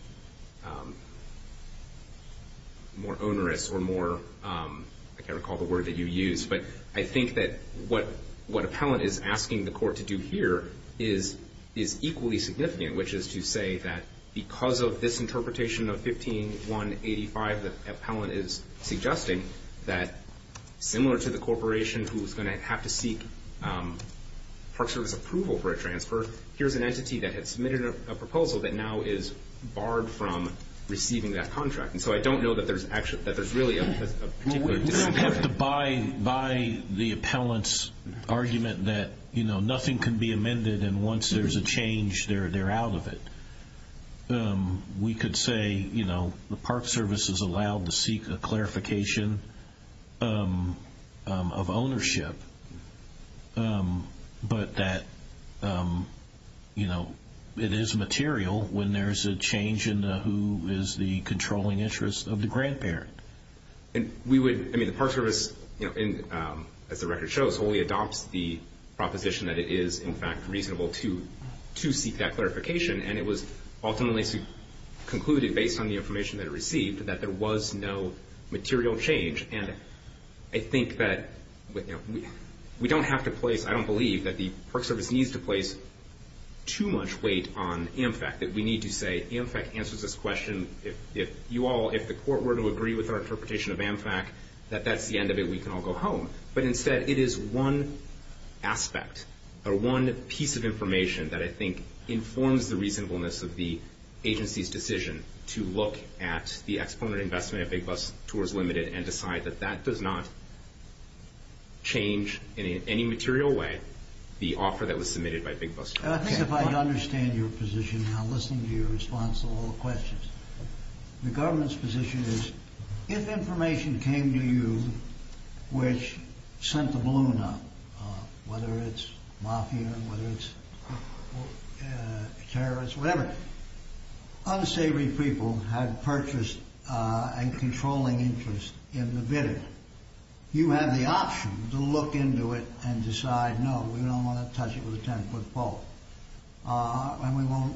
more onerous or more, like I recall the word that you used, but I think that what appellant is asking the court to do here is equally significant, which is to say that because of this interpretation of 15185, the appellant is suggesting that similar to the corporation who's going to have to seek Park Service approval for a transfer, here's an entity that has submitted a proposal that now is barred from receiving that contract. And so I don't know that there's really a particular distinction. You have to buy the appellant's argument that, you know, nothing can be amended, and once there's a change, they're out of it. We could say, you know, the Park Service is allowed to seek a clarification of ownership, but that, you know, it is material when there's a change in who is the controlling interest of the grandparent. And we would, I mean, the Park Service, you know, as the record shows, wholly adopts the proposition that it is in fact reasonable to seek that clarification, and it was ultimately concluded based on the information that it received that there was no material change. And I think that we don't have to place, I don't believe, that the Park Service needs to place too much weight on AMFAC, that we need to say AMFAC answers this question. If you all, if the Court were to agree with our interpretation of AMFAC, that that's the end of it, we can all go home. But instead, it is one aspect or one piece of information that I think informs the reasonableness of the agency's decision to look at the exponent investment of Big Bus Tours Limited and decide that that does not change in any material way the offer that was submitted by Big Bus Tours. I think if I understand your position, and I'm listening to your response to all the questions, the government's position is, if information came to you which sent the balloon up, whether it's mafia, whether it's terrorists, whatever, unsavory people had purchased a controlling interest in the bidding, you have the option to look into it and decide, no, we don't want to touch it with a 10-foot pole. And we won't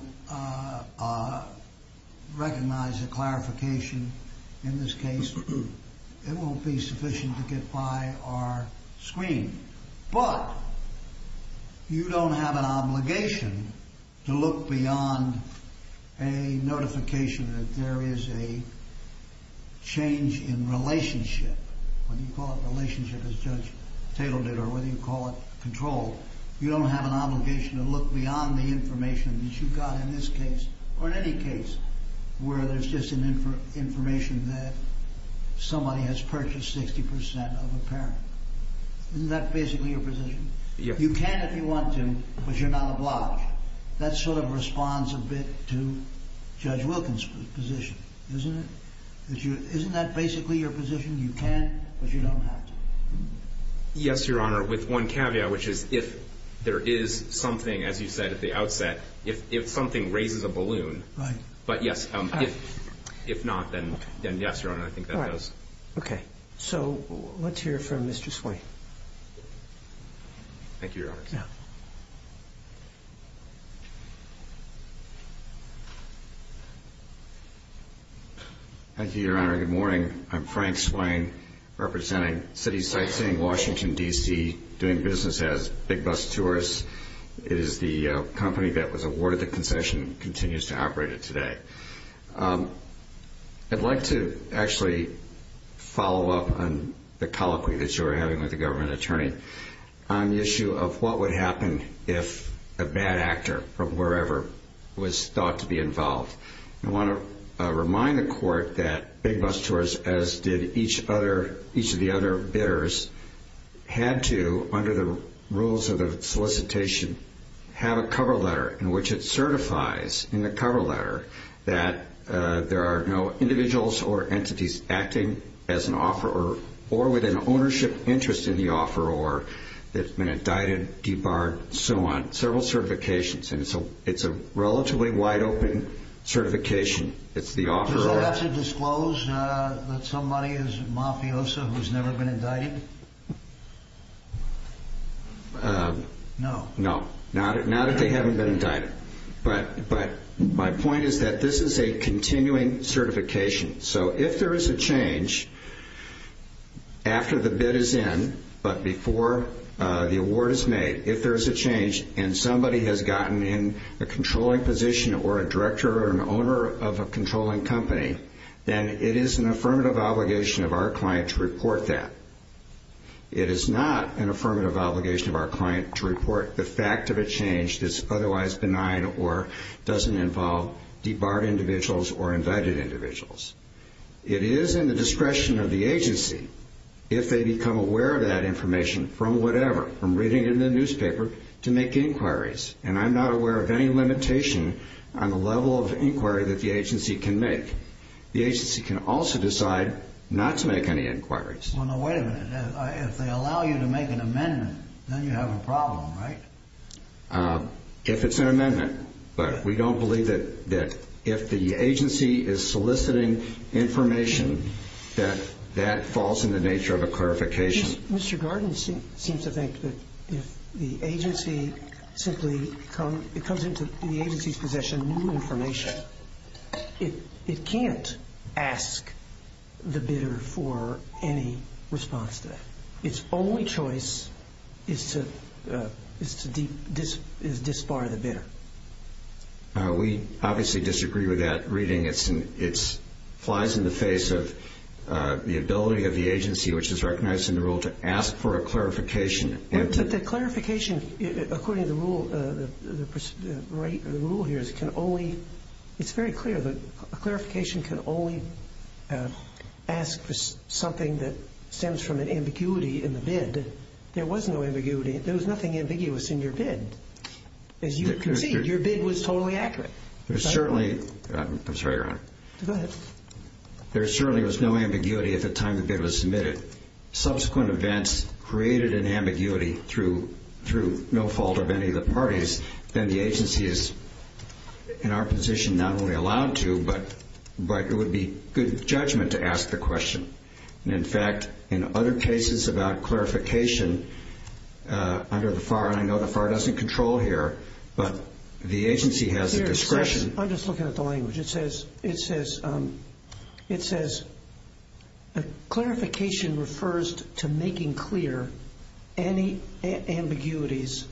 recognize the clarification in this case. It won't be sufficient to get by our screen. But you don't have an obligation to look beyond a notification that there is a change in relationship, whether you call it relationship as Judge Tatel did or whether you call it control, you don't have an obligation to look beyond the information that you've got in this case or in any case where there's just information that somebody has purchased 60% of a parent. Isn't that basically your position? You can if you want to, but you're not obliged. That sort of responds a bit to Judge Wilkins' position, isn't it? Isn't that basically your position? You can, but you don't have to. Yes, Your Honor, with one caveat, which is if there is something, as you said at the outset, if something raises a balloon, but yes, if not, then yes, Your Honor, I think that does. Okay. So let's hear from Mr. Swain. Thank you, Your Honor. Thank you, Your Honor. Good morning. I'm Frank Swain representing City Sightseeing Washington, D.C., doing business as Big Bus Tourists. It is the company that was awarded the concession and continues to operate it today. I'd like to actually follow up on the colloquy that you were having with the government attorney on the issue of what would happen if a bad actor from wherever was thought to be involved. I want to remind the Court that Big Bus Tourists, as did each of the other bidders, had to, under the rules of the solicitation, have a cover letter in which it certifies in the cover letter that there are no individuals or entities acting as an offeror or with an ownership interest in the offeror that have been indicted, debarred, and so on, several certifications. And so it's a relatively wide-open certification. It's the offeror. Does it have to disclose that somebody is a mafioso who's never been indicted? No. No, not if they haven't been indicted. But my point is that this is a continuing certification. So if there is a change after the bid is in, but before the award is made, if there is a change and somebody has gotten in a controlling position or a director or an owner of a controlling company, then it is an affirmative obligation of our client to report that. It is not an affirmative obligation of our client to report the fact of a change that's otherwise benign or doesn't involve debarred individuals or indicted individuals. It is in the discretion of the agency if they become aware of that information from whatever, from reading it in the newspaper, to make inquiries. And I'm not aware of any limitation on the level of inquiry that the agency can make. The agency can also decide not to make any inquiries. Well, no, wait a minute. If they allow you to make an amendment, then you have a problem, right? If it's an amendment. But we don't believe that if the agency is soliciting information, that that falls in the nature of a clarification. Mr. Gordon seems to think that if the agency simply comes into the agency's possession of new information, it can't ask the bidder for any response to that. Its only choice is to disbar the bidder. We obviously disagree with that reading. It flies in the face of the ability of the agency, which is recognized in the rule, to ask for a clarification. But the clarification, according to the rule here, can only ask for something that stems from an ambiguity in the bid. There was no ambiguity. There was nothing ambiguous in your bid. As you can see, your bid was totally accurate. I'm sorry, Your Honor. Go ahead. There certainly was no ambiguity at the time the bid was submitted. Subsequent events created an ambiguity through no fault of any of the parties. Then the agency is, in our position, not only allowed to, but it would be good judgment to ask the question. In fact, in other cases about clarification under the FAR, and I know the FAR doesn't control here, but the agency has the discretion. I'm just looking at the language. It says, clarification refers to making clear any ambiguities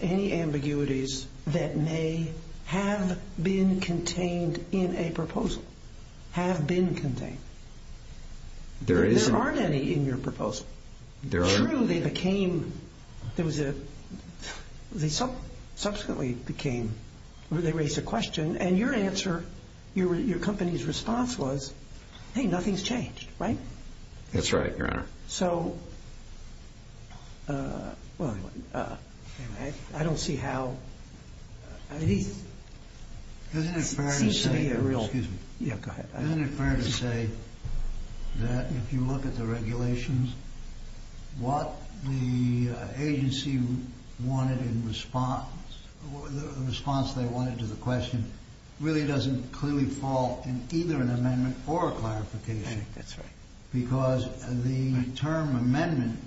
that may have been contained in a proposal, have been contained. True, they became, there was a, they subsequently became, they raised a question, and your answer, your company's response was, hey, nothing's changed, right? That's right, Your Honor. So, well, I don't see how, I mean, it seems to be a real, yeah, go ahead. Isn't it fair to say that if you look at the regulations, what the agency wanted in response, the response they wanted to the question really doesn't clearly fall in either an amendment or a clarification. That's right. Because the term amendment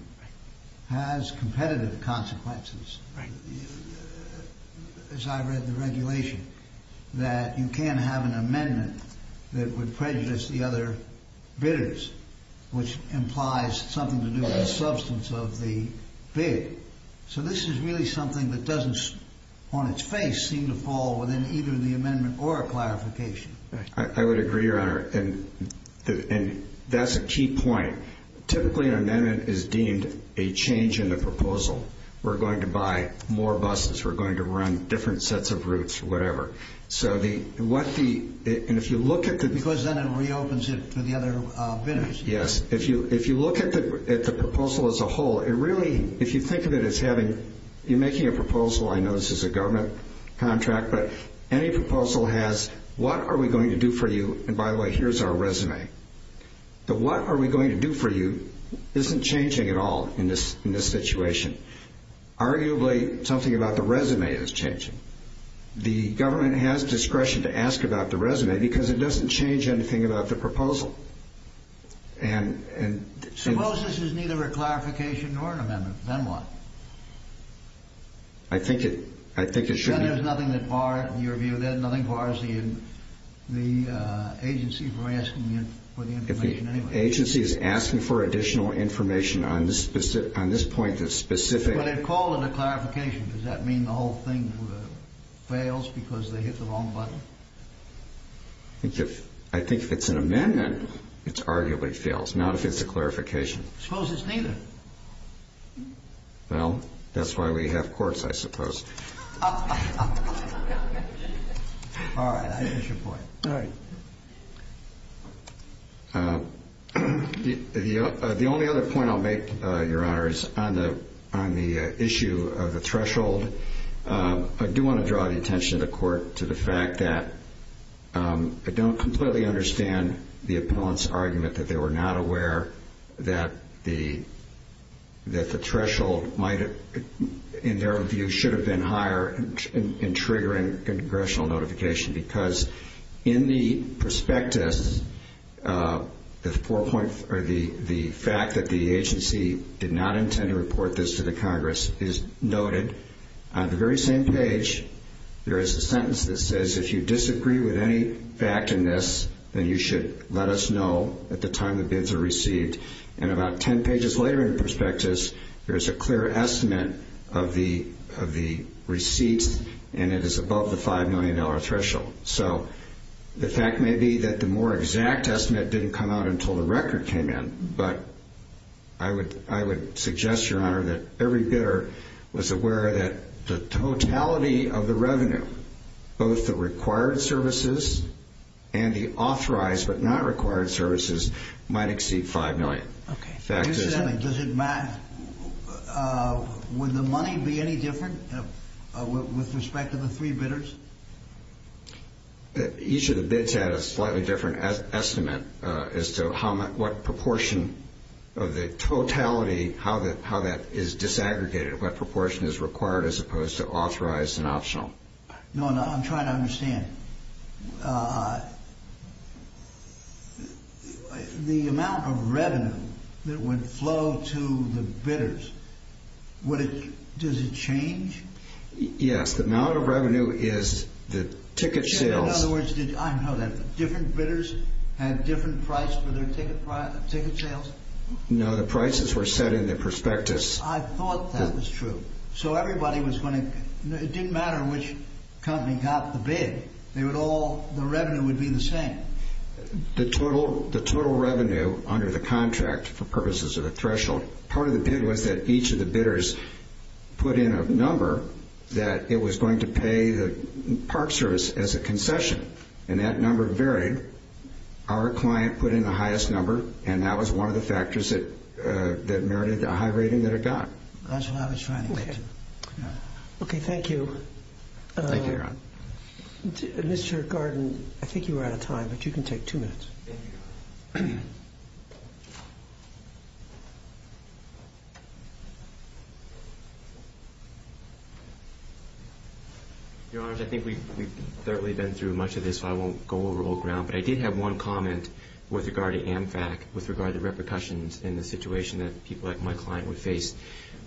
has competitive consequences. Right. As I read the regulation, that you can't have an amendment that would prejudice the other bidders, which implies something to do with the substance of the bid. So this is really something that doesn't, on its face, seem to fall within either the amendment or a clarification. I would agree, Your Honor, and that's a key point. Typically, an amendment is deemed a change in the proposal. We're going to buy more buses. We're going to run different sets of routes, whatever. So what the, and if you look at the... Because then it reopens it to the other bidders. Yes. If you look at the proposal as a whole, it really, if you think of it as having, you're making a proposal, I know this is a government contract, but any proposal has what are we going to do for you, and by the way, here's our resume. The what are we going to do for you isn't changing at all in this situation. Arguably, something about the resume is changing. The government has discretion to ask about the resume because it doesn't change anything about the proposal. Suppose this is neither a clarification nor an amendment. Then what? I think it should be. Then there's nothing that, in your view, then nothing bars the agency from asking for the information anyway. If the agency is asking for additional information on this point of specific... But they call it a clarification. Does that mean the whole thing fails because they hit the wrong button? I think if it's an amendment, it arguably fails, not if it's a clarification. Suppose it's neither. Well, that's why we have courts, I suppose. All right, I appreciate your point. All right. The only other point I'll make, Your Honor, is on the issue of the threshold. I do want to draw the attention of the Court to the fact that I don't completely understand the opponent's argument that they were not aware that the threshold, in their view, should have been higher in triggering congressional notification. Because in the prospectus, the fact that the agency did not intend to report this to the Congress is noted. On the very same page, there is a sentence that says, if you disagree with any fact in this, then you should let us know at the time the bids are received. And about 10 pages later in the prospectus, there is a clear estimate of the receipts, and it is above the $5 million threshold. So the fact may be that the more exact estimate didn't come out until the record came in. But I would suggest, Your Honor, that every bidder was aware that the totality of the revenue, both the required services and the authorized but not required services, might exceed $5 million. Okay. Does it matter? Would the money be any different with respect to the three bidders? Each of the bids had a slightly different estimate as to what proportion of the totality, how that is disaggregated, what proportion is required as opposed to authorized and optional. Your Honor, I'm trying to understand. The amount of revenue that would flow to the bidders, does it change? Yes. The amount of revenue is the ticket sales. I didn't know that. Different bidders had different price for their ticket sales? No. The prices were set in the prospectus. I thought that was true. It didn't matter which company got the bid. The revenue would be the same. The total revenue under the contract for purposes of the threshold, part of the bid was that each of the bidders put in a number that it was going to pay the Park Service as a concession. And that number varied. Our client put in the highest number, and that was one of the factors that merited a high rating that it got. That's what I was trying to get to. Okay, thank you. Thank you, Your Honor. Mr. Garden, I think you were out of time, but you can take two minutes. Thank you. Your Honors, I think we've certainly been through much of this, so I won't go over old ground, but I did have one comment with regard to AMFAC with regard to repercussions in the situation that people like my client would face.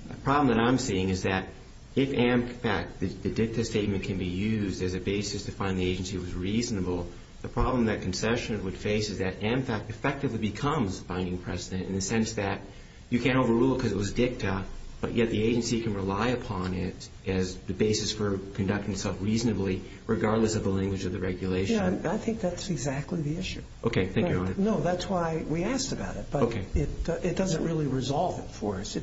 The problem that I'm seeing is that if AMFAC, the dicta statement, can be used as a basis to find the agency was reasonable, the problem that concession would face is that AMFAC effectively becomes the binding precedent in the sense that you can't overrule it because it was dicta, but yet the agency can rely upon it as the basis for conducting itself reasonably, regardless of the language of the regulation. Yeah, I think that's exactly the issue. Okay, thank you, Your Honor. No, that's why we asked about it, but it doesn't really resolve it for us.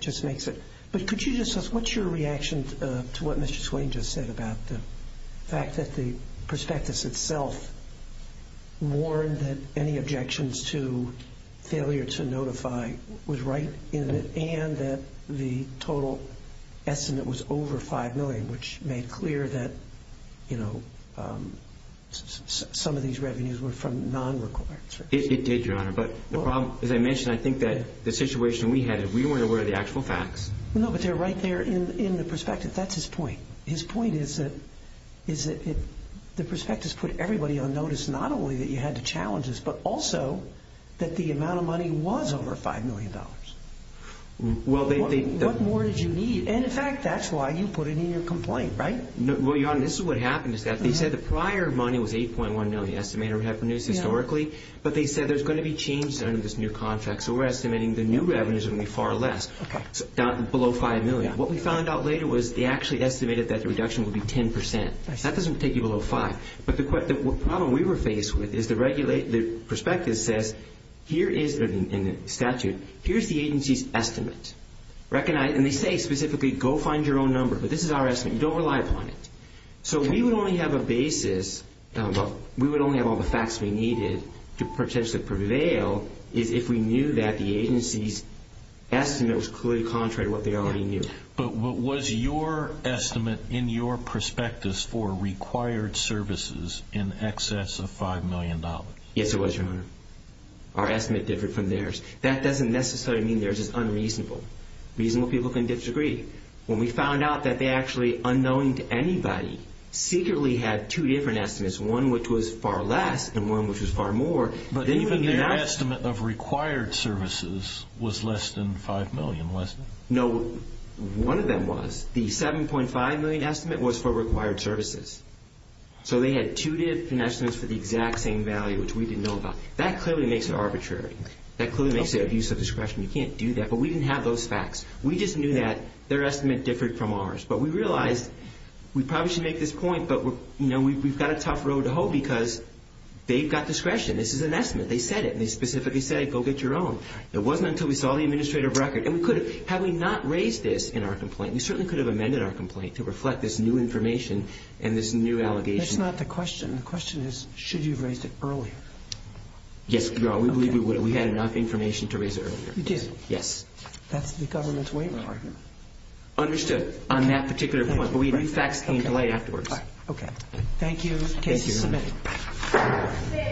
But could you just tell us what's your reaction to what Mr. Swain just said about the fact that the prospectus itself warned that any objections to failure to notify was right and that the total estimate was over $5 million, which made clear that some of these revenues were from non-requirements. As I mentioned, I think that the situation we had, we weren't aware of the actual facts. No, but they're right there in the prospectus. That's his point. His point is that the prospectus put everybody on notice not only that you had to challenge this, but also that the amount of money was over $5 million. What more did you need? And in fact, that's why you put it in your complaint, right? Well, Your Honor, this is what happened. They said the prior money was $8.1 million estimated revenues historically, but they said there's going to be changes under this new contract, so we're estimating the new revenues are going to be far less, below $5 million. What we found out later was they actually estimated that the reduction would be 10%. That doesn't take you below 5%. But the problem we were faced with is the prospectus says here is the statute. Here's the agency's estimate. And they say specifically go find your own number, but this is our estimate. You don't rely upon it. So we would only have a basis, but we would only have all the facts we needed to potentially prevail if we knew that the agency's estimate was clearly contrary to what they already knew. But was your estimate in your prospectus for required services in excess of $5 million? Yes, it was, Your Honor. Our estimate differed from theirs. That doesn't necessarily mean theirs is unreasonable. Reasonable people can disagree. When we found out that they actually, unknowing to anybody, secretly had two different estimates, one which was far less and one which was far more. But even their estimate of required services was less than $5 million, wasn't it? No, one of them was. The $7.5 million estimate was for required services. So they had two different estimates for the exact same value, which we didn't know about. That clearly makes it arbitrary. That clearly makes it abuse of discretion. You can't do that. But we didn't have those facts. We just knew that their estimate differed from ours. But we realized we probably should make this point, but we've got a tough road to hoe because they've got discretion. This is an estimate. They said it, and they specifically said it. Go get your own. It wasn't until we saw the administrative record. And we could have. Had we not raised this in our complaint, we certainly could have amended our complaint to reflect this new information and this new allegation. That's not the question. The question is should you have raised it earlier? Yes, Your Honor, we believe we would have. We had enough information to raise it earlier. You did? Yes. That's the government's way to argue. Understood on that particular point. But we do facts in delay afterwards. Okay. Thank you. Case is submitted.